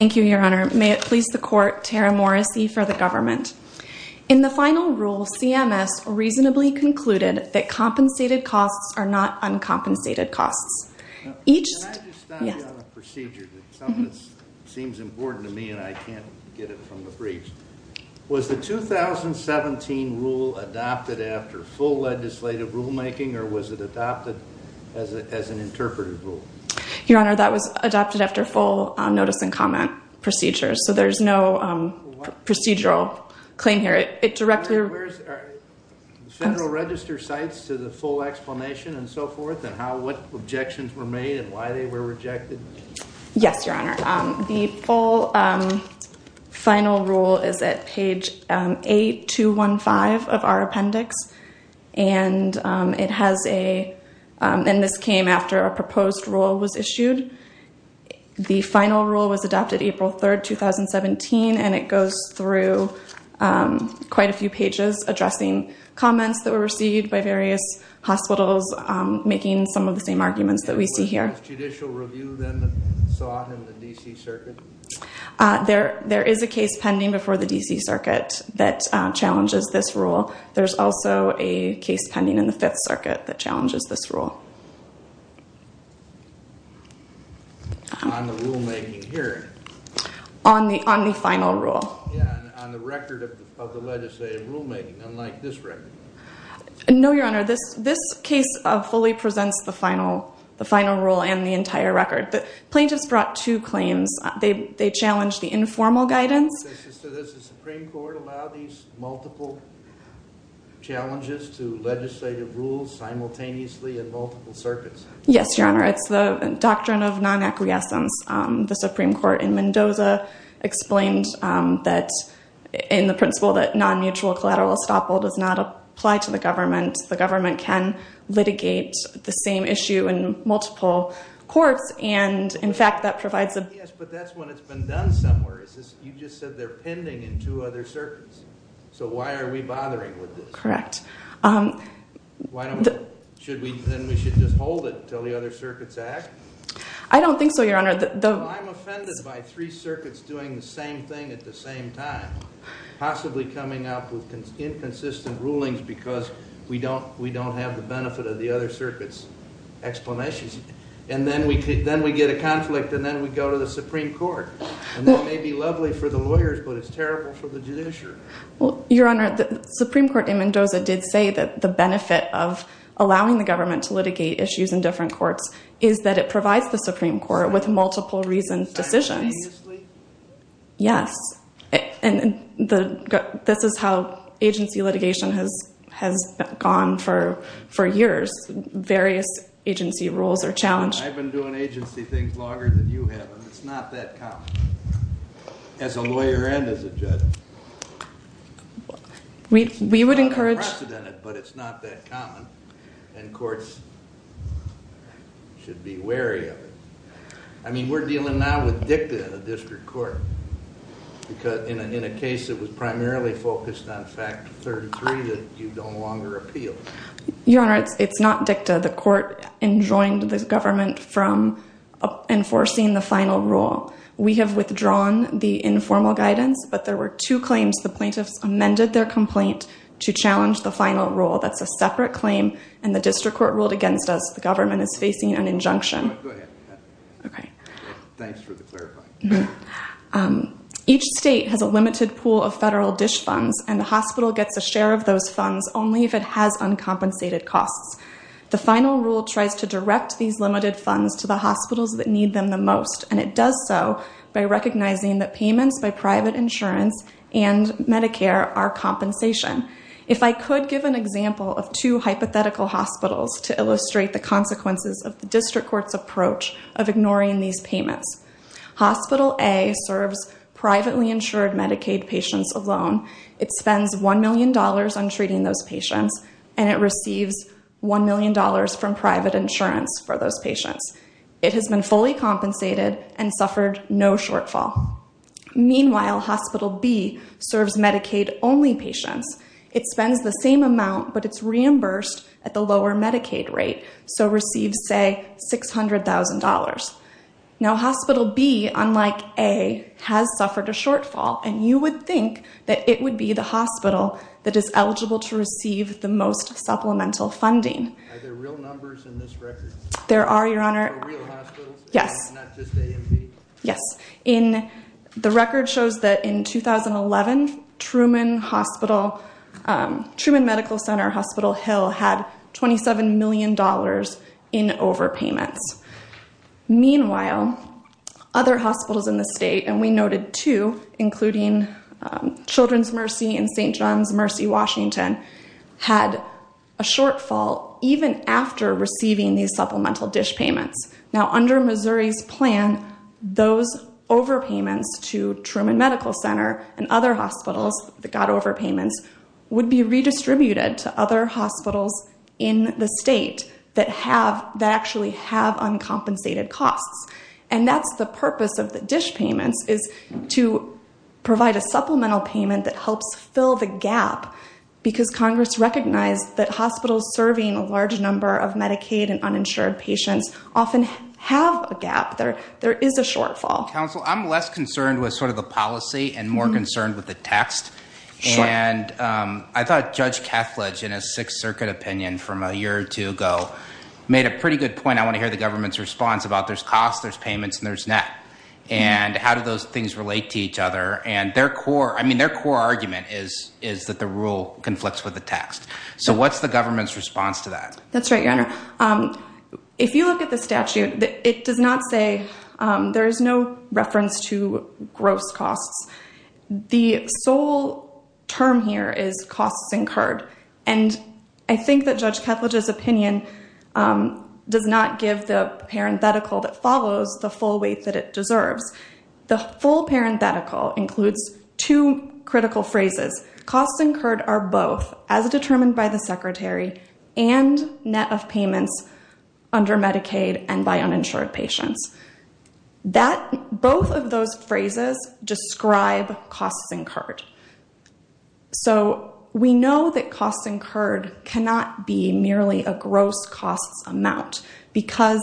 Thank you, Your Honor. May it please the Court, Tara Morrissey for the government. In the final rule, CMS reasonably concluded that compensated costs are not uncompensated costs. Can I just stop you on a procedure? Something that seems important to me and I can't get it from the briefs. Was the 2017 rule adopted after full legislative rulemaking or was it adopted as an interpretive rule? Your Honor, that was adopted after full notice and comment procedures, so there's no procedural claim here. Where's the Federal Register cites to the full explanation and so forth and what objections were made and why they were rejected? Yes, Your Honor. The full final rule is at page 8215 of our appendix. And this came after a proposed rule was issued. The final rule was adopted April 3, 2017, and it goes through quite a few pages addressing comments that were received by various hospitals, making some of the same arguments that we see here. Was judicial review then sought in the D.C. Circuit? There is a case pending before the D.C. Circuit that challenges this rule. There's also a case pending in the Fifth Circuit that challenges this rule. On the rulemaking here? On the final rule. On the record of the legislative rulemaking, unlike this record? No, Your Honor. This case fully presents the final rule and the entire record. The plaintiffs brought two claims. They challenged the informal guidance. So does the Supreme Court allow these multiple challenges to legislative rules simultaneously in multiple circuits? Yes, Your Honor. It's the doctrine of non-acquiescence. The Supreme Court in Mendoza explained that in the principle that non-mutual collateral estoppel does not apply to the government. The government can litigate the same issue in multiple courts, and, in fact, that provides a Yes, but that's when it's been done somewhere. You just said they're pending in two other circuits. So why are we bothering with this? Correct. Then we should just hold it until the other circuits act? I don't think so, Your Honor. I'm offended by three circuits doing the same thing at the same time, possibly coming up with inconsistent rulings because we don't have the benefit of the other circuits' explanations. And then we get a conflict, and then we go to the Supreme Court. And that may be lovely for the lawyers, but it's terrible for the judiciary. Your Honor, the Supreme Court in Mendoza did say that the benefit of allowing the government to litigate issues in different courts is that it provides the Supreme Court with multiple reasoned decisions. Simultaneously? Yes. And this is how agency litigation has gone for years. Various agency roles are challenged. I've been doing agency things longer than you have, and it's not that common, as a lawyer and as a judge. We would encourage... It's unprecedented, but it's not that common, and courts should be wary of it. I mean, we're dealing now with dicta in a district court, because in a case that was primarily focused on fact 33, that you no longer appeal. Your Honor, it's not dicta. The court enjoined the government from enforcing the final rule. We have withdrawn the informal guidance, but there were two claims. The plaintiffs amended their complaint to challenge the final rule. That's a separate claim, and the district court ruled against us. The government is facing an injunction. Go ahead. Okay. Thanks for the clarifying. Each state has a limited pool of federal DISH funds, and the hospital gets a share of those funds only if it has uncompensated costs. The final rule tries to direct these limited funds to the hospitals that need them the most, and it does so by recognizing that payments by private insurance and Medicare are compensation. If I could give an example of two hypothetical hospitals to illustrate the consequences of the district court's approach of ignoring these payments. Hospital A serves privately insured Medicaid patients alone. It spends $1 million on treating those patients, and it receives $1 million from private insurance for those patients. It has been fully compensated and suffered no shortfall. Meanwhile, Hospital B serves Medicaid-only patients. It spends the same amount, but it's reimbursed at the lower Medicaid rate, so receives, say, $600,000. Now, Hospital B, unlike A, has suffered a shortfall, and you would think that it would be the hospital that is eligible to receive the most supplemental funding. Are there real numbers in this record? There are, Your Honor. Real hospitals? Yes. Not just A and B? Yes. The record shows that in 2011, Truman Medical Center Hospital Hill had $27 million in overpayments. Meanwhile, other hospitals in the state, and we noted two, including Children's Mercy and St. John's Mercy Washington, had a shortfall even after receiving these supplemental dish payments. Now, under Missouri's plan, those overpayments to Truman Medical Center and other hospitals that got overpayments would be redistributed to other hospitals in the state that actually have uncompensated costs. And that's the purpose of the dish payments is to provide a supplemental payment that helps fill the gap because Congress recognized that hospitals serving a large number of Medicaid and uninsured patients often have a gap. There is a shortfall. Counsel, I'm less concerned with sort of the policy and more concerned with the text. Sure. And I thought Judge Kethledge, in a Sixth Circuit opinion from a year or two ago, made a pretty good point. I want to hear the government's response about there's costs, there's payments, and there's net. And how do those things relate to each other? I mean, their core argument is that the rule conflicts with the text. So what's the government's response to that? That's right, Your Honor. If you look at the statute, it does not say there is no reference to gross costs. The sole term here is costs incurred. And I think that Judge Kethledge's opinion does not give the parenthetical that follows the full weight that it deserves. The full parenthetical includes two critical phrases. Costs incurred are both, as determined by the Secretary, and net of payments under Medicaid and by uninsured patients. Both of those phrases describe costs incurred. So we know that costs incurred cannot be merely a gross costs amount because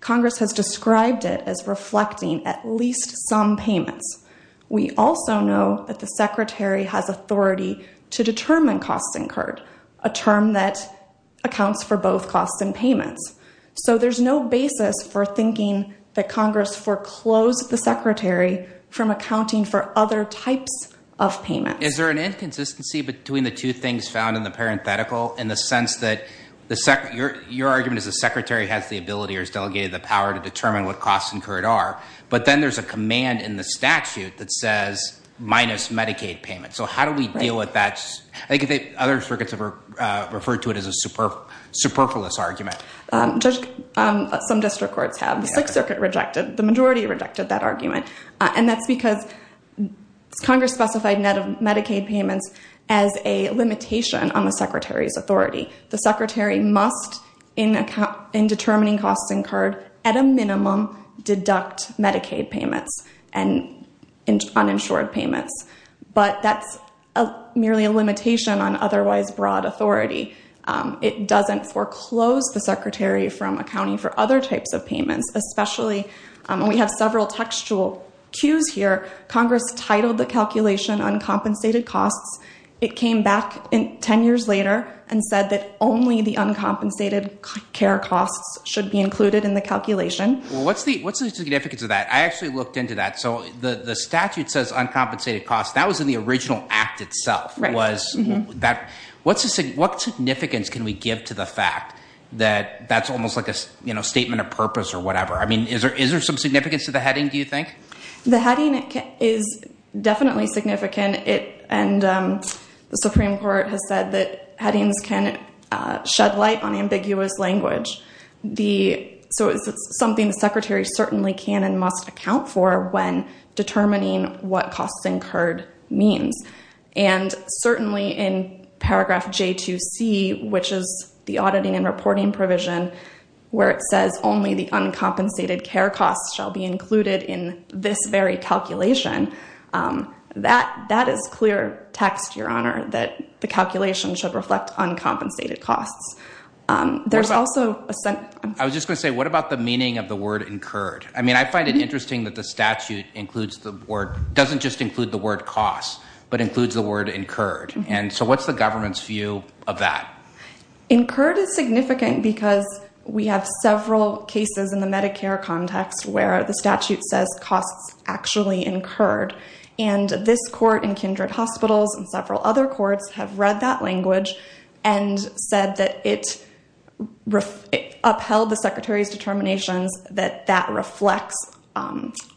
Congress has described it as reflecting at least some payments. We also know that the Secretary has authority to determine costs incurred, a term that accounts for both costs and payments. So there's no basis for thinking that Congress foreclosed the Secretary from accounting for other types of payments. Is there an inconsistency between the two things found in the parenthetical in the sense that your argument is the Secretary has the ability or has delegated the power to determine what costs incurred are? But then there's a command in the statute that says minus Medicaid payments. So how do we deal with that? I think other circuits have referred to it as a superfluous argument. Some district courts have. The Sixth Circuit rejected. The majority rejected that argument. And that's because Congress specified net of Medicaid payments as a limitation on the Secretary's authority. The Secretary must, in determining costs incurred, at a minimum, deduct Medicaid payments and uninsured payments. But that's merely a limitation on otherwise broad authority. It doesn't foreclose the Secretary from accounting for other types of payments, especially when we have several textual cues here. Congress titled the calculation uncompensated costs. It came back 10 years later and said that only the uncompensated care costs should be included in the calculation. What's the significance of that? I actually looked into that. So the statute says uncompensated costs. That was in the original act itself. What significance can we give to the fact that that's almost like a statement of purpose or whatever? I mean, is there some significance to the heading, do you think? The heading is definitely significant. And the Supreme Court has said that headings can shed light on ambiguous language. So it's something the Secretary certainly can and must account for when determining what costs incurred means. And certainly in paragraph J2C, which is the auditing and reporting provision, where it says only the uncompensated care costs shall be included in this very calculation, that is clear text, Your Honor, that the calculation should reflect uncompensated costs. I was just going to say, what about the meaning of the word incurred? I mean, I find it interesting that the statute doesn't just include the word costs but includes the word incurred. And so what's the government's view of that? Incurred is significant because we have several cases in the Medicare context where the statute says costs actually incurred. And this court in Kindred Hospitals and several other courts have read that language and said that it upheld the Secretary's determinations that that reflects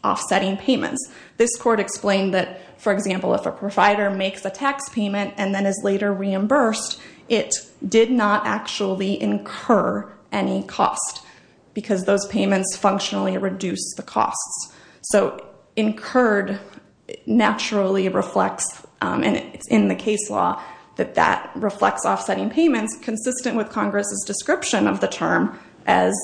offsetting payments. This court explained that, for example, if a provider makes a tax payment and then is later reimbursed, it did not actually incur any cost because those payments functionally reduce the costs. So incurred naturally reflects, and it's in the case law, that that reflects offsetting payments, consistent with Congress's description of the term as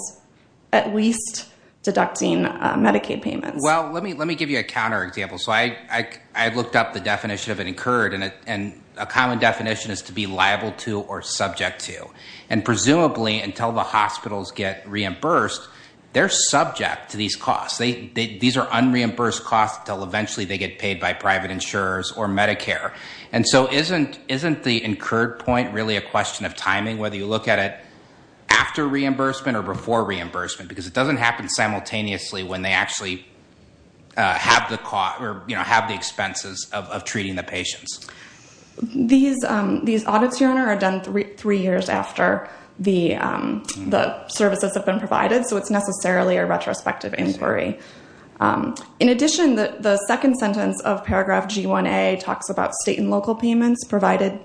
at least deducting Medicaid payments. Well, let me give you a counterexample. So I looked up the definition of incurred, and a common definition is to be liable to or subject to. And presumably until the hospitals get reimbursed, they're subject to these costs. These are unreimbursed costs until eventually they get paid by private insurers or Medicare. And so isn't the incurred point really a question of timing, whether you look at it after reimbursement or before reimbursement? Because it doesn't happen simultaneously when they actually have the expenses of treating the patients. These audits, Your Honor, are done three years after the services have been provided, so it's necessarily a retrospective inquiry. In addition, the second sentence of paragraph G1A talks about state and local payments provided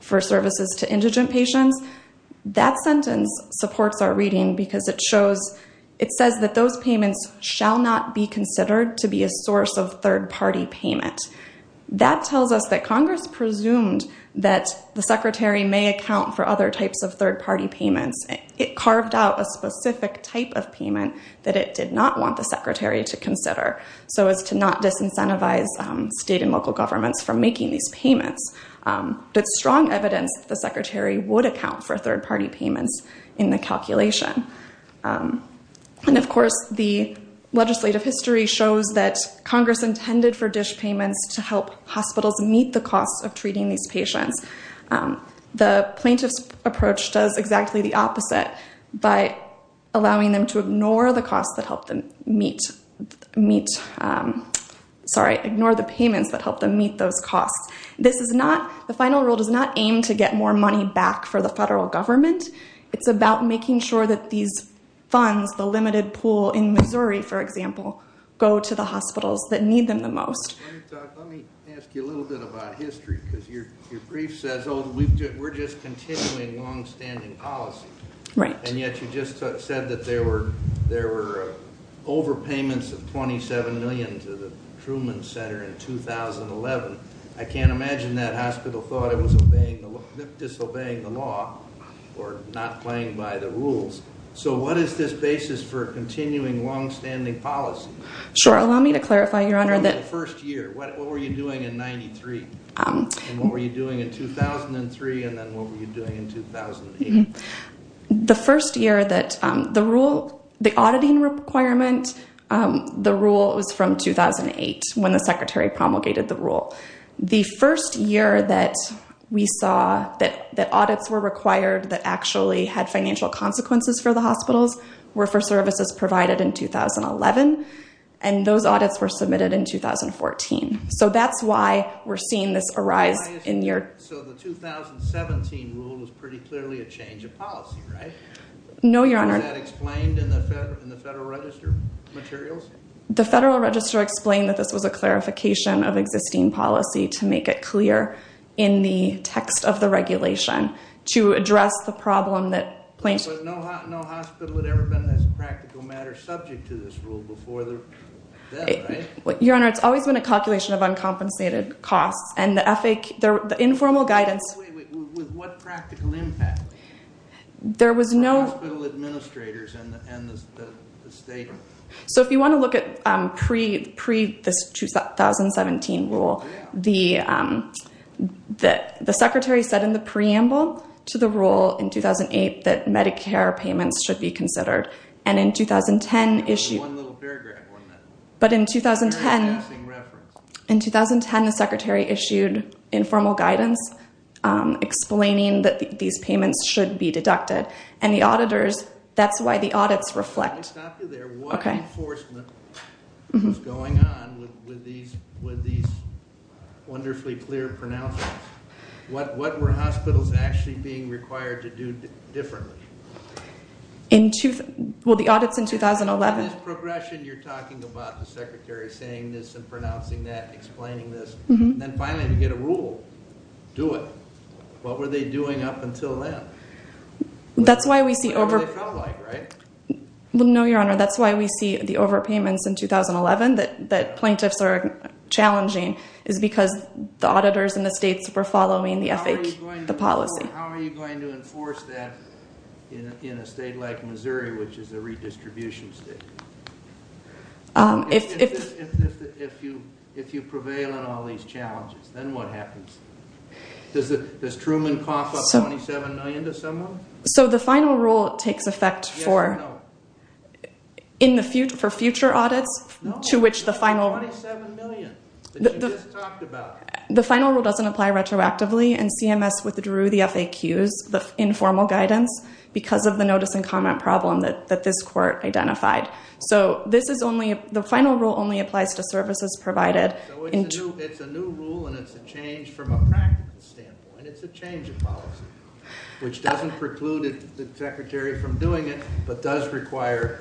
for services to indigent patients. That sentence supports our reading because it shows, it says that those payments shall not be considered to be a source of third-party payment. That tells us that Congress presumed that the secretary may account for other types of third-party payments. It carved out a specific type of payment that it did not want the secretary to consider, so as to not disincentivize state and local governments from making these payments. But it's strong evidence that the secretary would account for third-party payments in the calculation. And, of course, the legislative history shows that Congress intended for dish payments to help hospitals meet the costs of treating these patients. The plaintiff's approach does exactly the opposite by allowing them to ignore the costs that help them meet, sorry, ignore the payments that help them meet those costs. This is not, the final rule does not aim to get more money back for the federal government. It's about making sure that these funds, the limited pool in Missouri, for example, go to the hospitals that need them the most. Let me ask you a little bit about history because your brief says, oh, we're just continuing longstanding policy. Right. And yet you just said that there were overpayments of $27 million to the Truman Center in 2011. I can't imagine that hospital thought it was disobeying the law or not playing by the rules. So what is this basis for continuing longstanding policy? Sure. Allow me to clarify, Your Honor. The first year, what were you doing in 93? And what were you doing in 2003? And then what were you doing in 2008? The first year that the rule, the auditing requirement, the rule was from 2008 when the Secretary promulgated the rule. The first year that we saw that audits were required that actually had financial consequences for the hospitals were for services provided in 2011. And those audits were submitted in 2014. So that's why we're seeing this arise in your- No, Your Honor. Was that explained in the Federal Register materials? The Federal Register explained that this was a clarification of existing policy to make it clear in the text of the regulation to address the problem that- But no hospital had ever been, as a practical matter, subject to this rule before then, right? Your Honor, it's always been a calculation of uncompensated costs. And the informal guidance- With what practical impact? There was no- Hospital administrators and the state. So if you want to look at pre-2017 rule, the Secretary said in the preamble to the rule in 2008 that Medicare payments should be considered. And in 2010 issued- There was one little paragraph on that. But in 2010- Very passing reference. In 2010, the Secretary issued informal guidance explaining that these payments should be deducted. And the auditors- That's why the audits reflect- Let me stop you there. What enforcement was going on with these wonderfully clear pronouncements? What were hospitals actually being required to do differently? Well, the audits in 2011- You're talking about the Secretary saying this and pronouncing that and explaining this. And then finally you get a rule. Do it. What were they doing up until then? That's why we see over- That's what they felt like, right? No, Your Honor. That's why we see the overpayments in 2011 that plaintiffs are challenging is because the auditors in the states were following the FH- How are you going to enforce that in a state like Missouri, which is a redistribution state? If you prevail in all these challenges, then what happens? Does Truman cough up $27 million to someone? So the final rule takes effect for future audits to which the final- No, $27 million that you just talked about. The final rule doesn't apply retroactively, and CMS withdrew the FAQs, the informal guidance, because of the notice and comment problem that this court identified. So the final rule only applies to services provided- So it's a new rule, and it's a change from a practical standpoint. It's a change of policy, which doesn't preclude the Secretary from doing it, but does require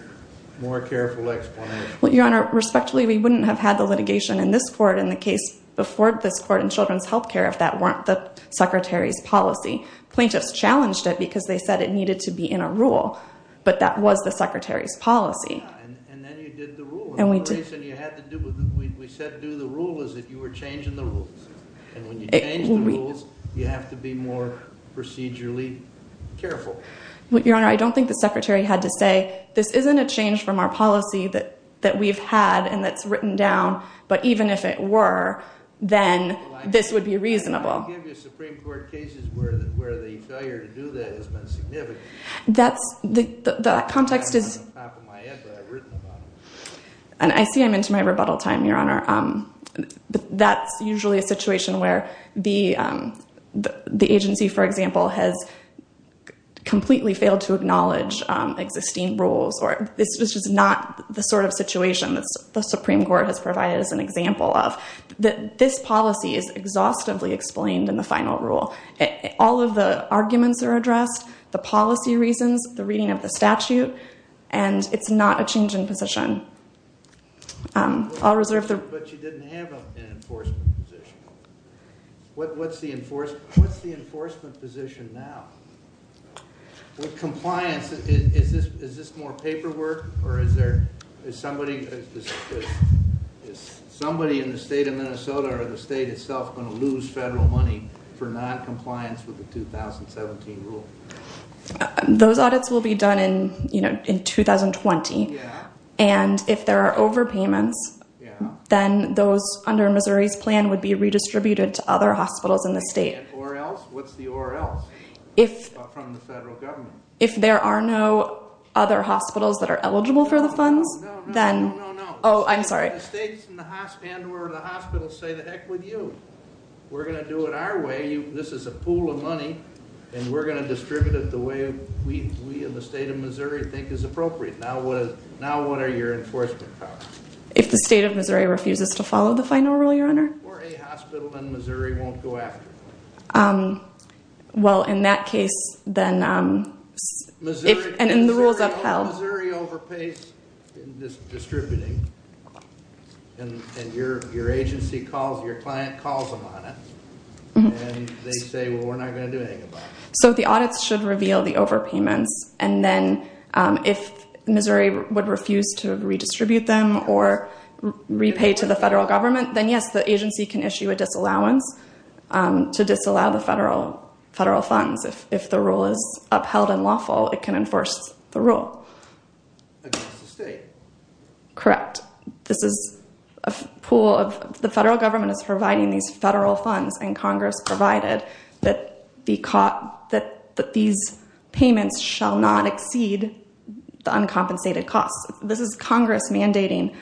more careful explanation. Well, Your Honor, respectfully, we wouldn't have had the litigation in this court and the case before this court in children's health care if that weren't the Secretary's policy. Plaintiffs challenged it because they said it needed to be in a rule, but that was the Secretary's policy. Yeah, and then you did the rule. And the reason you had to do- we said do the rule is that you were changing the rules. And when you change the rules, you have to be more procedurally careful. Your Honor, I don't think the Secretary had to say, this isn't a change from our policy that we've had and that's written down, but even if it were, then this would be reasonable. I give you Supreme Court cases where the failure to do that has been significant. That's- the context is- It's not on the top of my head, but I've written about it. And I see I'm into my rebuttal time, Your Honor. That's usually a situation where the agency, for example, has completely failed to acknowledge existing rules, or this was just not the sort of situation that the Supreme Court has provided as an example of. This policy is exhaustively explained in the final rule. All of the arguments are addressed, the policy reasons, the reading of the statute, and it's not a change in position. I'll reserve the- But you didn't have an enforcement position. What's the enforcement position now? With compliance, is this more paperwork or is there- is somebody in the state of Minnesota or the state itself going to lose federal money for noncompliance with the 2017 rule? Those audits will be done in 2020. Yeah. And if there are overpayments, then those under Missouri's plan would be redistributed to other hospitals in the state. Or else? What's the or else? From the federal government. If there are no other hospitals that are eligible for the funds, then- No, no, no, no, no. Oh, I'm sorry. The states and the hospitals say, the heck with you. We're going to do it our way. This is a pool of money, and we're going to distribute it the way we in the state of Missouri think is appropriate. Now what are your enforcement powers? If the state of Missouri refuses to follow the final rule, Your Honor? Or a hospital in Missouri won't go after it. Well, in that case, then- Missouri overpays in distributing. And your agency calls- your client calls them on it. And they say, well, we're not going to do anything about it. So the audits should reveal the overpayments. And then if Missouri would refuse to redistribute them or repay to the federal government, then, yes, the agency can issue a disallowance to disallow the federal funds. If the rule is upheld and lawful, it can enforce the rule. Against the state. Correct. This is a pool of- the federal government is providing these federal funds, and Congress provided that these payments shall not exceed the uncompensated costs. This is Congress mandating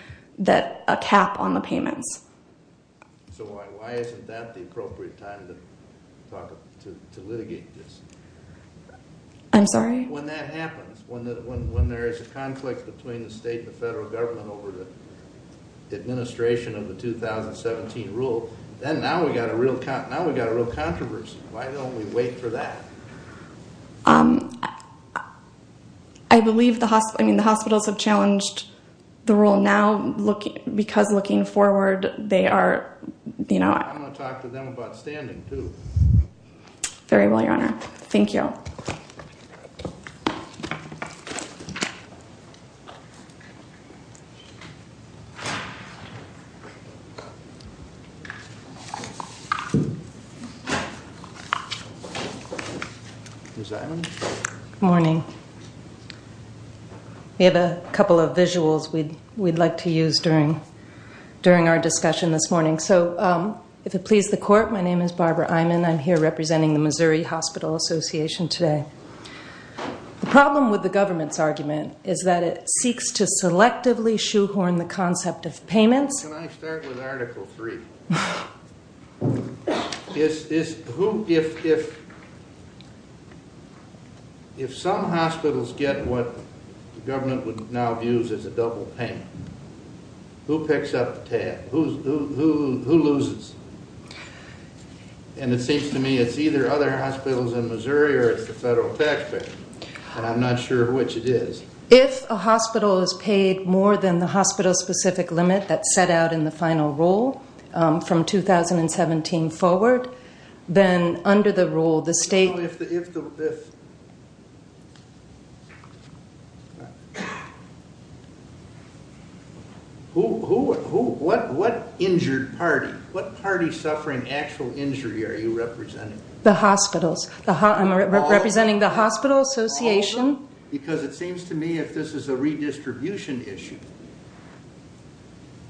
a cap on the payments. So why isn't that the appropriate time to litigate this? I'm sorry? When that happens, when there is a conflict between the state and the federal government over the administration of the 2017 rule, then now we've got a real controversy. Why don't we wait for that? I believe the hospitals have challenged the rule now because looking forward, they are- I'm going to talk to them about standing, too. Very well, Your Honor. Thank you. Ms. Iman? Good morning. We have a couple of visuals we'd like to use during our discussion this morning. So if it pleases the Court, my name is Barbara Iman. I'm here representing the Missouri Hospital Association today. The problem with the government's argument is that it seeks to selectively shoehorn the concept of payments. Can I start with Article III? If some hospitals get what the government now views as a double payment, who picks up the tab? Who loses? And it seems to me it's either other hospitals in Missouri or it's the federal taxpayer, and I'm not sure which it is. If a hospital is paid more than the hospital-specific limit that's set out in the final rule from 2017 forward, then under the rule, the state- What injured party, what party suffering actual injury are you representing? The hospitals. I'm representing the hospital association. Because it seems to me if this is a redistribution issue,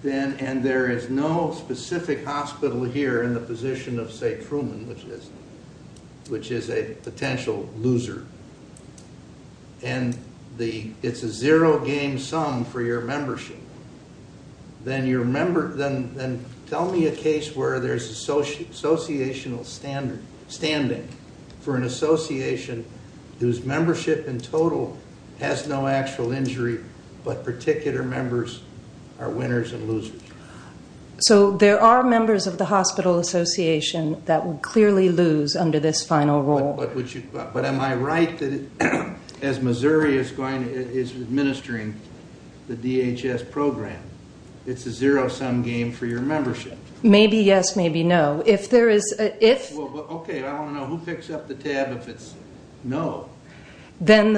and there is no specific hospital here in the position of, say, Truman, which is a potential loser, and it's a zero-game sum for your membership, then tell me a case where there's associational standing for an association whose membership in total has no actual injury, but particular members are winners and losers. So there are members of the hospital association that would clearly lose under this final rule. But am I right that as Missouri is administering the DHS program, it's a zero-sum game for your membership? Maybe yes, maybe no. Okay, I don't know. Who picks up the tab if it's no? Then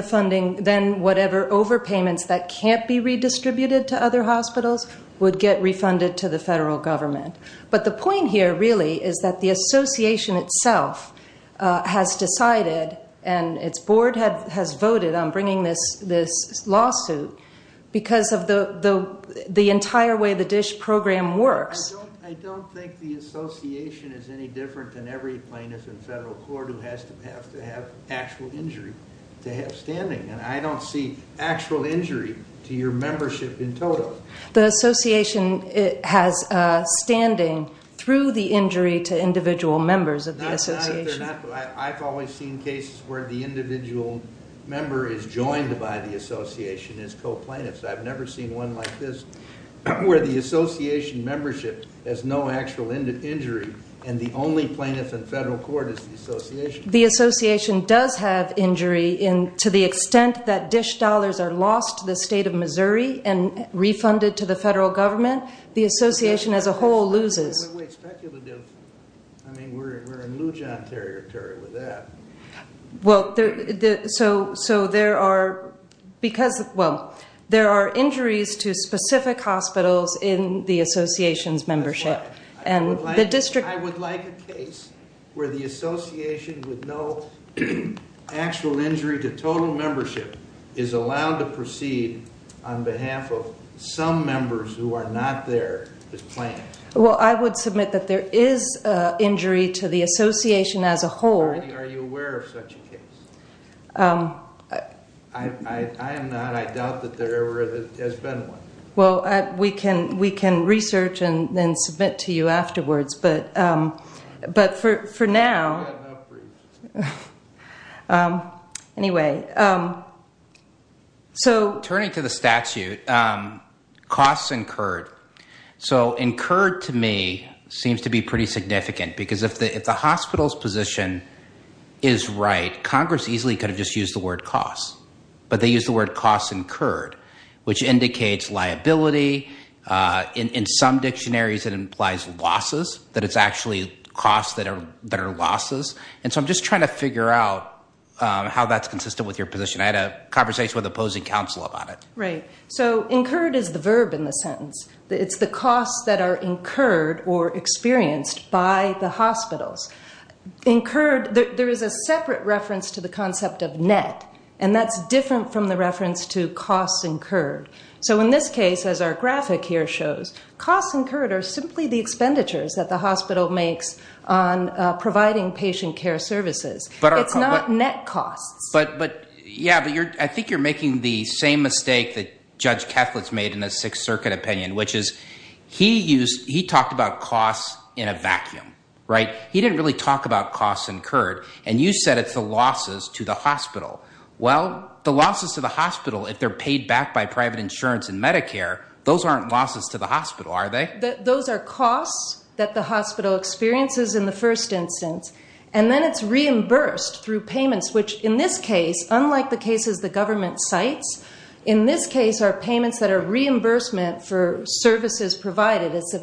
whatever overpayments that can't be redistributed to other hospitals would get refunded to the federal government. But the point here, really, is that the association itself has decided, and its board has voted on bringing this lawsuit because of the entire way the DSH program works. I don't think the association is any different than every plaintiff in federal court who has to have actual injury to have standing. And I don't see actual injury to your membership in total. The association has standing through the injury to individual members of the association. I've always seen cases where the individual member is joined by the association as co-plaintiffs. I've never seen one like this where the association membership has no actual injury, and the only plaintiff in federal court is the association. The association does have injury to the extent that DSH dollars are lost to the state of Missouri and refunded to the federal government. The association as a whole loses. Wait, speculative. I mean, we're in Lujan territory with that. Well, so there are injuries to specific hospitals in the association's membership. I would like a case where the association with no actual injury to total membership is allowed to proceed on behalf of some members who are not there as plaintiffs. Well, I would submit that there is injury to the association as a whole. Are you aware of such a case? I am not. I doubt that there ever has been one. Well, we can research and then submit to you afterwards. But for now, anyway. Turning to the statute, costs incurred. So incurred to me seems to be pretty significant because if the hospital's position is right, Congress easily could have just used the word costs. But they used the word costs incurred, which indicates liability. In some dictionaries, it implies losses, that it's actually costs that are losses. And so I'm just trying to figure out how that's consistent with your position. I had a conversation with opposing counsel about it. Right. So incurred is the verb in the sentence. It's the costs that are incurred or experienced by the hospitals. Incurred, there is a separate reference to the concept of net, and that's different from the reference to costs incurred. So in this case, as our graphic here shows, costs incurred are simply the expenditures that the hospital makes on providing patient care services. It's not net costs. Yeah, but I think you're making the same mistake that Judge Kethledge made in his Sixth Circuit opinion, which is he talked about costs in a vacuum. Right? He didn't really talk about costs incurred, and you said it's the losses to the hospital. Well, the losses to the hospital, if they're paid back by private insurance and Medicare, those aren't losses to the hospital, are they? Those are costs that the hospital experiences in the first instance, and then it's reimbursed through payments, which in this case, unlike the cases the government cites, in this case are payments that are reimbursement for services provided. It's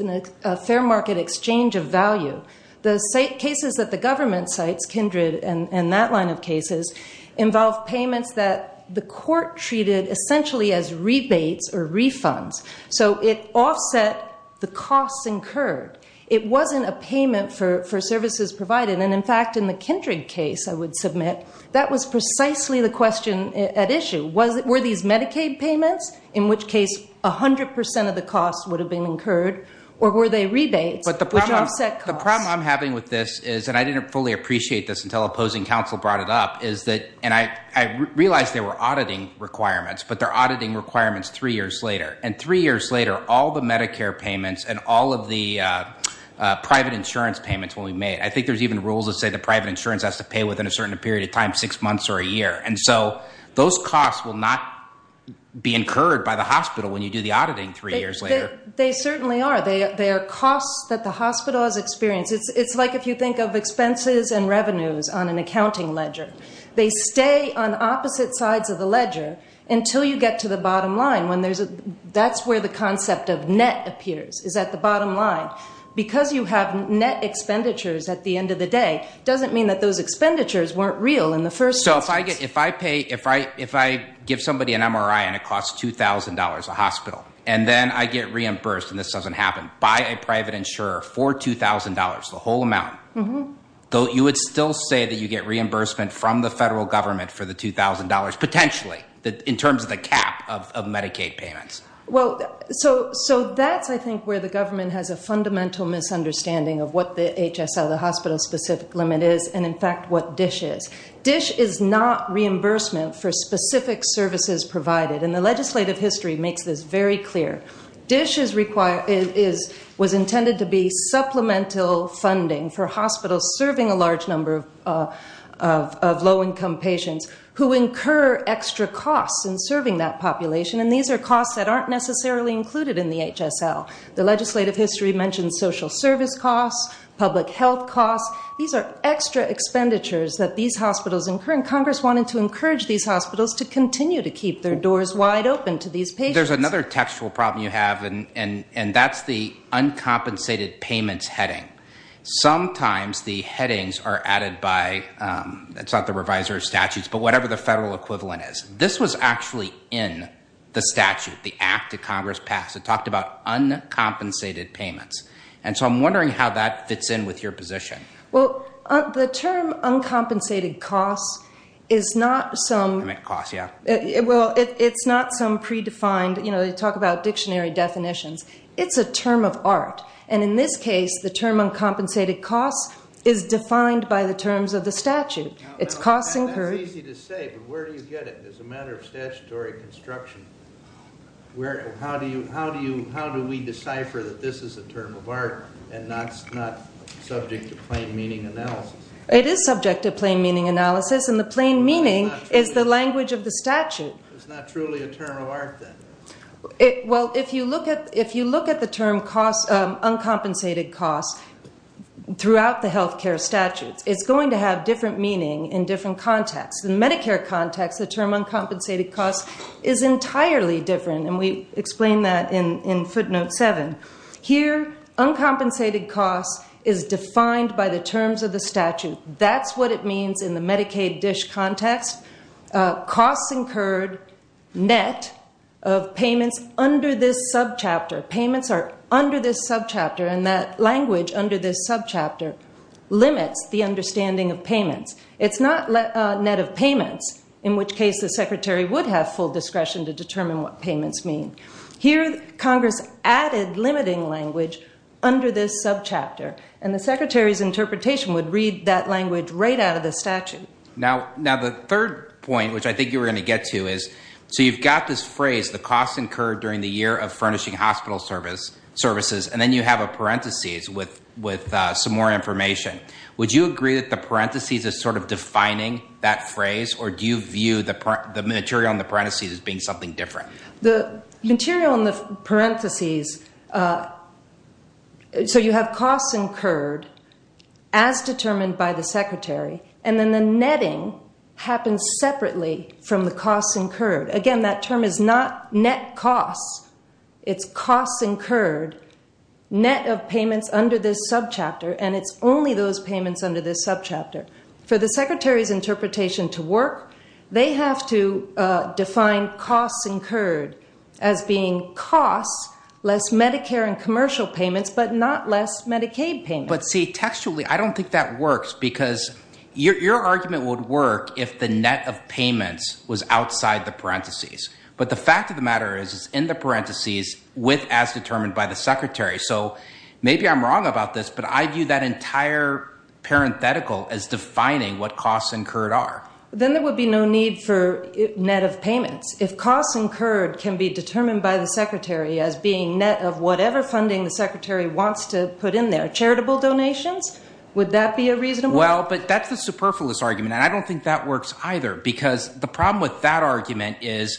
a fair market exchange of value. The cases that the government cites, Kindred and that line of cases, involve payments that the court treated essentially as rebates or refunds. So it offset the costs incurred. It wasn't a payment for services provided. And, in fact, in the Kindred case, I would submit, that was precisely the question at issue. Were these Medicaid payments, in which case 100% of the costs would have been incurred, or were they rebates which offset costs? The problem I'm having with this is, and I didn't fully appreciate this until opposing counsel brought it up, is that, and I realized they were auditing requirements, but they're auditing requirements three years later. And three years later, all the Medicare payments and all of the private insurance payments when we made, I think there's even rules that say the private insurance has to pay within a certain period of time, six months or a year. And so those costs will not be incurred by the hospital when you do the auditing three years later. They certainly are. They are costs that the hospital has experienced. It's like if you think of expenses and revenues on an accounting ledger. They stay on opposite sides of the ledger until you get to the bottom line. That's where the concept of net appears, is at the bottom line. Because you have net expenditures at the end of the day doesn't mean that those expenditures weren't real in the first instance. So if I give somebody an MRI and it costs $2,000 a hospital, and then I get reimbursed, and this doesn't happen, buy a private insurer for $2,000, the whole amount, you would still say that you get reimbursement from the federal government for the $2,000, potentially in terms of the cap of Medicaid payments. Well, so that's, I think, where the government has a fundamental misunderstanding of what the HSL, the hospital-specific limit is, and in fact what DSH is. DSH is not reimbursement for specific services provided, and the legislative history makes this very clear. DSH was intended to be supplemental funding for hospitals serving a large number of low-income patients who incur extra costs in serving that population, and these are costs that aren't necessarily included in the HSL. The legislative history mentions social service costs, public health costs. These are extra expenditures that these hospitals incur, and Congress wanted to encourage these hospitals to continue to keep their doors wide open to these patients. There's another textual problem you have, and that's the uncompensated payments heading. Sometimes the headings are added by, it's not the reviser of statutes, but whatever the federal equivalent is. This was actually in the statute, the act that Congress passed. It talked about uncompensated payments. And so I'm wondering how that fits in with your position. Well, the term uncompensated costs is not some- I meant costs, yeah. Well, it's not some predefined, you know, they talk about dictionary definitions. It's a term of art, and in this case, the term uncompensated costs is defined by the terms of the statute. It's costs incurred- That's easy to say, but where do you get it as a matter of statutory construction? How do we decipher that this is a term of art and not subject to plain meaning analysis? It is subject to plain meaning analysis, and the plain meaning is the language of the statute. It's not truly a term of art, then? Well, if you look at the term uncompensated costs throughout the health care statutes, it's going to have different meaning in different contexts. In the Medicare context, the term uncompensated costs is entirely different, and we explain that in footnote 7. Here, uncompensated costs is defined by the terms of the statute. That's what it means in the Medicaid dish context. Costs incurred net of payments under this subchapter. Payments are under this subchapter, and that language under this subchapter limits the understanding of payments. It's not net of payments, in which case the secretary would have full discretion to determine what payments mean. Here, Congress added limiting language under this subchapter, and the secretary's interpretation would read that language right out of the statute. Now, the third point, which I think you were going to get to, is, so you've got this phrase, the costs incurred during the year of furnishing hospital services, and then you have a parentheses with some more information. Would you agree that the parentheses is sort of defining that phrase, or do you view the material in the parentheses as being something different? The material in the parentheses, so you have costs incurred as determined by the secretary, and then the netting happens separately from the costs incurred. Again, that term is not net costs. It's costs incurred net of payments under this subchapter, and it's only those payments under this subchapter. For the secretary's interpretation to work, they have to define costs incurred as being costs, less Medicare and commercial payments, but not less Medicaid payments. But, see, textually I don't think that works because your argument would work if the net of payments was outside the parentheses. But the fact of the matter is it's in the parentheses with as determined by the secretary. So maybe I'm wrong about this, but I view that entire parenthetical as defining what costs incurred are. Then there would be no need for net of payments. If costs incurred can be determined by the secretary as being net of whatever funding the secretary wants to put in there, charitable donations, would that be a reasonable? Well, but that's the superfluous argument, and I don't think that works either because the problem with that argument is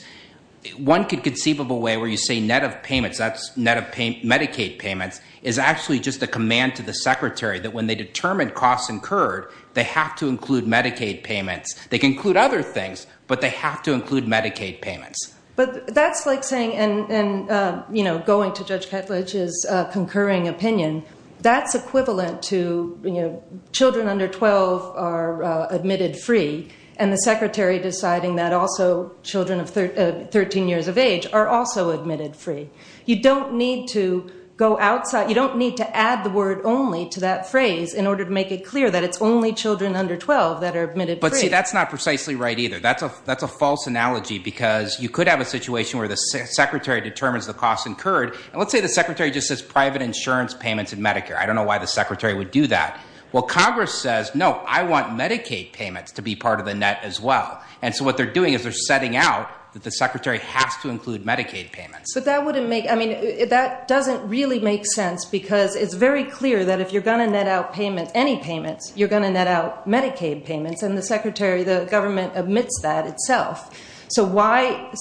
one could conceive of a way where you say net of payments. That's net of Medicaid payments is actually just a command to the secretary that when they determine costs incurred, they have to include Medicaid payments. They can include other things, but they have to include Medicaid payments. But that's like saying and, you know, going to Judge Ketledge's concurring opinion, that's equivalent to, you know, children under 12 are admitted free and the secretary deciding that also children of 13 years of age are also admitted free. You don't need to go outside. You don't need to add the word only to that phrase in order to make it clear that it's only children under 12 that are admitted free. But, see, that's not precisely right either. That's a false analogy because you could have a situation where the secretary determines the costs incurred, and let's say the secretary just says private insurance payments and Medicare. I don't know why the secretary would do that. Well, Congress says, no, I want Medicaid payments to be part of the net as well. And so what they're doing is they're setting out that the secretary has to include Medicaid payments. But that wouldn't make ñ I mean, that doesn't really make sense because it's very clear that if you're going to net out payments, any payments, you're going to net out Medicaid payments, and the secretary, the government, admits that itself. So why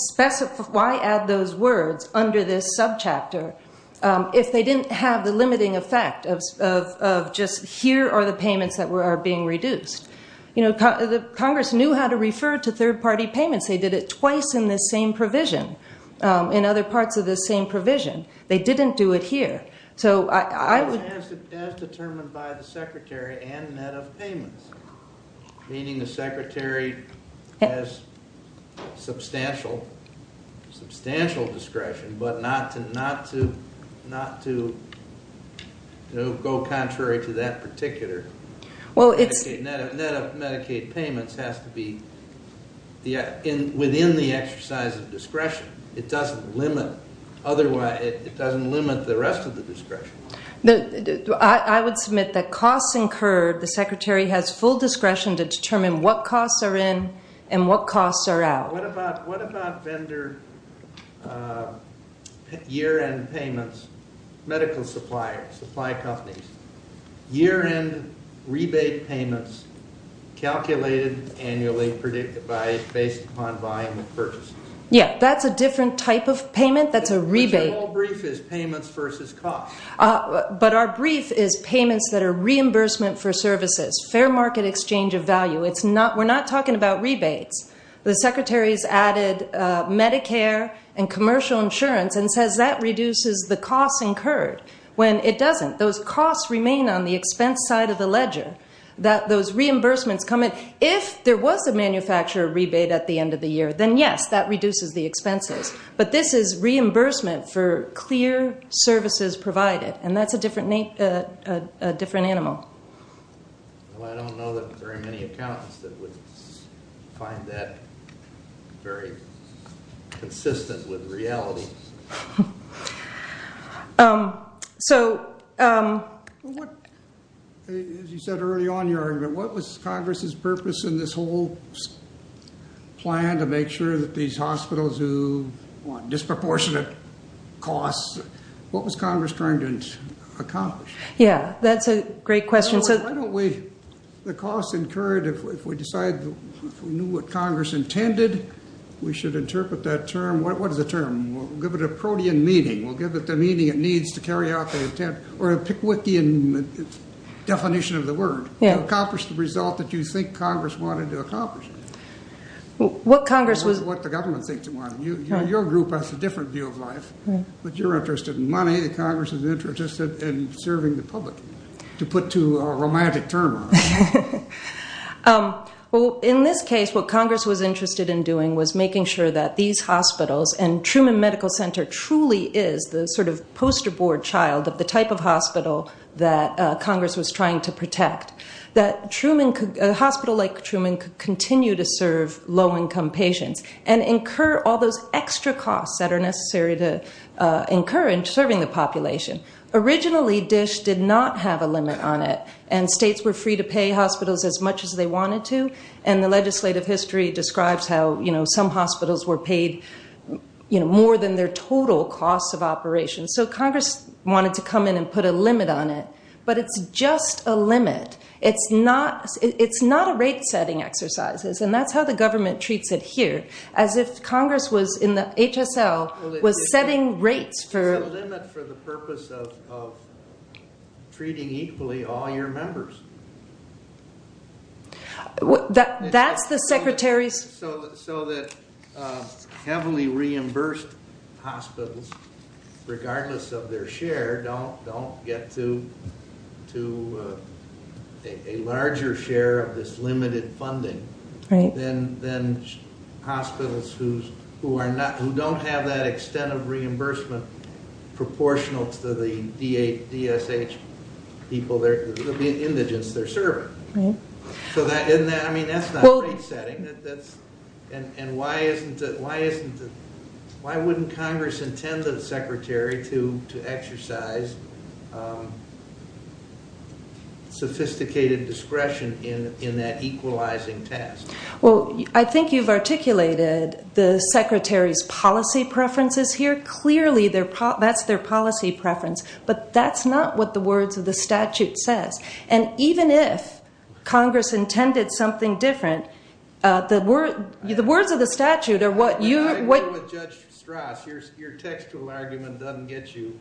add those words under this subchapter if they didn't have the limiting effect of just here are the payments that are being reduced? You know, Congress knew how to refer to third-party payments. They did it twice in this same provision, in other parts of this same provision. They didn't do it here. As determined by the secretary and net of payments, meaning the secretary has substantial discretion, but not to go contrary to that particular. Well, it's ñ Net of Medicaid payments has to be within the exercise of discretion. It doesn't limit the rest of the discretion. I would submit that costs incurred, the secretary has full discretion to determine what costs are in and what costs are out. What about vendor year-end payments, medical suppliers, supply companies, year-end rebate payments calculated annually based upon volume of purchases? Yeah, that's a different type of payment. That's a rebate. But your whole brief is payments versus costs. But our brief is payments that are reimbursement for services, fair market exchange of value. We're not talking about rebates. The secretary has added Medicare and commercial insurance and says that reduces the costs incurred, when it doesn't. Those costs remain on the expense side of the ledger. Those reimbursements come in. If there was a manufacturer rebate at the end of the year, then yes, that reduces the expenses. But this is reimbursement for clear services provided, and that's a different animal. Well, I don't know that there are many accountants that would find that very consistent with reality. As you said early on in your argument, what was Congress's purpose in this whole plan to make sure that these hospitals who want disproportionate costs, what was Congress trying to accomplish? Yeah, that's a great question. Why don't we, the costs incurred, if we decide, if we knew what Congress intended, we should interpret that term. What is the term? We'll give it a protean meaning. We'll give it the meaning it needs to carry out the intent, or a Pickwickian definition of the word. Accomplish the result that you think Congress wanted to accomplish. What Congress was— What the government thinks it wanted. Your group has a different view of life, but you're interested in money. Congress is interested in serving the public, to put it to a romantic term. Well, in this case, what Congress was interested in doing was making sure that these hospitals, and Truman Medical Center truly is the sort of poster-board child of the type of hospital that Congress was trying to protect, that a hospital like Truman could continue to serve low-income patients and incur all those extra costs that are necessary to incur in serving the population. Originally, DSH did not have a limit on it, and states were free to pay hospitals as much as they wanted to, and the legislative history describes how some hospitals were paid more than their total costs of operations. So Congress wanted to come in and put a limit on it, but it's just a limit. It's not a rate-setting exercise, and that's how the government treats it here, as if Congress was, in the HSL, was setting rates for— treating equally all your members. So that heavily reimbursed hospitals, regardless of their share, don't get a larger share of this limited funding than hospitals who don't have that extent of reimbursement proportional to the DSH people, the indigents they're serving. So isn't that—I mean, that's not rate-setting. And why isn't it—why wouldn't Congress intend the secretary to exercise sophisticated discretion in that equalizing task? Well, I think you've articulated the secretary's policy preferences here. Very clearly, that's their policy preference, but that's not what the words of the statute says. And even if Congress intended something different, the words of the statute are what you— I agree with Judge Strass. Your textual argument doesn't get you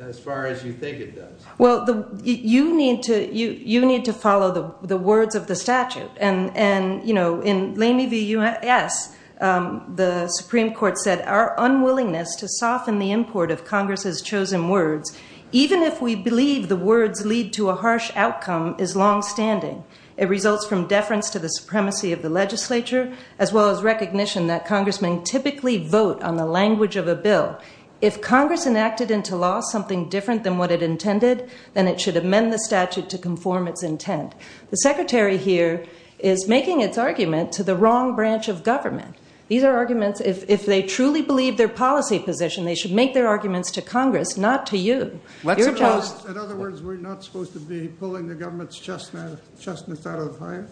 as far as you think it does. Well, you need to follow the words of the statute. And, you know, in Lamy v. U.S., the Supreme Court said, our unwillingness to soften the import of Congress's chosen words, even if we believe the words lead to a harsh outcome, is longstanding. It results from deference to the supremacy of the legislature, as well as recognition that congressmen typically vote on the language of a bill. If Congress enacted into law something different than what it intended, then it should amend the statute to conform its intent. The secretary here is making its argument to the wrong branch of government. These are arguments—if they truly believe their policy position, they should make their arguments to Congress, not to you. In other words, we're not supposed to be pulling the government's chestnuts out of the fire?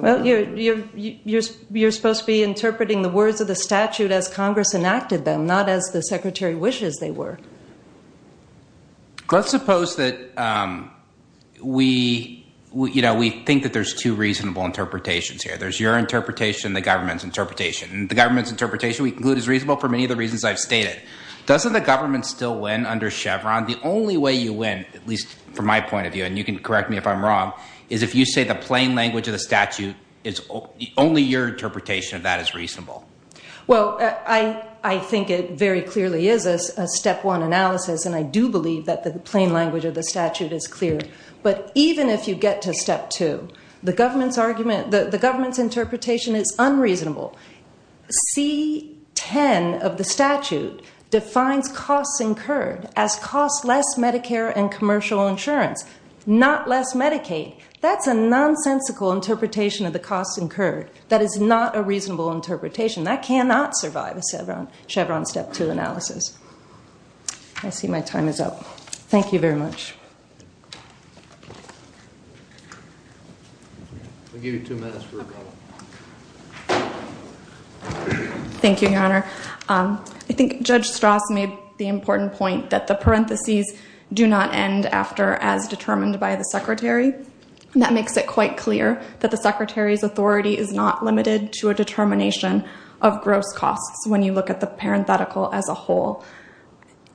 Well, you're supposed to be interpreting the words of the statute as Congress enacted them, not as the secretary wishes they were. Let's suppose that we think that there's two reasonable interpretations here. There's your interpretation and the government's interpretation. And the government's interpretation, we conclude, is reasonable for many of the reasons I've stated. Doesn't the government still win under Chevron? The only way you win, at least from my point of view, and you can correct me if I'm wrong, is if you say the plain language of the statute, only your interpretation of that is reasonable. Well, I think it very clearly is a step one analysis, and I do believe that the plain language of the statute is clear. But even if you get to step two, the government's interpretation is unreasonable. C-10 of the statute defines costs incurred as costs less Medicare and commercial insurance, not less Medicaid. That's a nonsensical interpretation of the costs incurred. That is not a reasonable interpretation. That cannot survive a Chevron step two analysis. I see my time is up. Thank you very much. Thank you, Your Honor. I think Judge Strauss made the important point that the parentheses do not end after as determined by the secretary. That makes it quite clear that the secretary's authority is not limited to a determination of gross costs when you look at the parenthetical as a whole.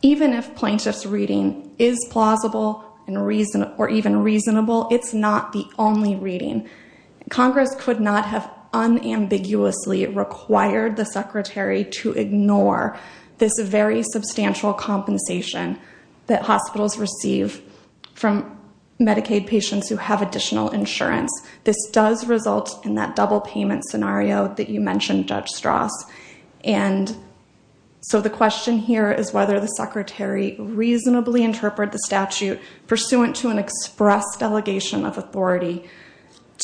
Even if plaintiff's reading is plausible or even reasonable, it's not the only reading. Congress could not have unambiguously required the secretary to ignore this very substantial compensation that hospitals receive from Medicaid patients who have additional insurance. This does result in that double payment scenario that you mentioned, Judge Strauss. And so the question here is whether the secretary reasonably interpreted the statute pursuant to an express delegation of authority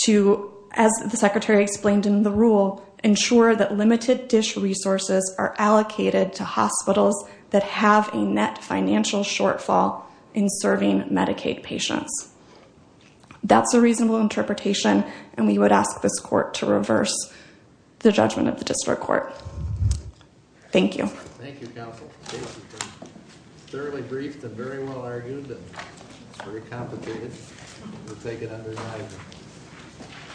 to, as the secretary explained in the rule, ensure that limited dish resources are allocated to hospitals that have a net financial shortfall in serving Medicaid patients. That's a reasonable interpretation, and we would ask this court to reverse the judgment of the district court. Thank you. Thank you, counsel. It's thoroughly briefed and very well argued, but it's very complicated. We'll take it under the knife.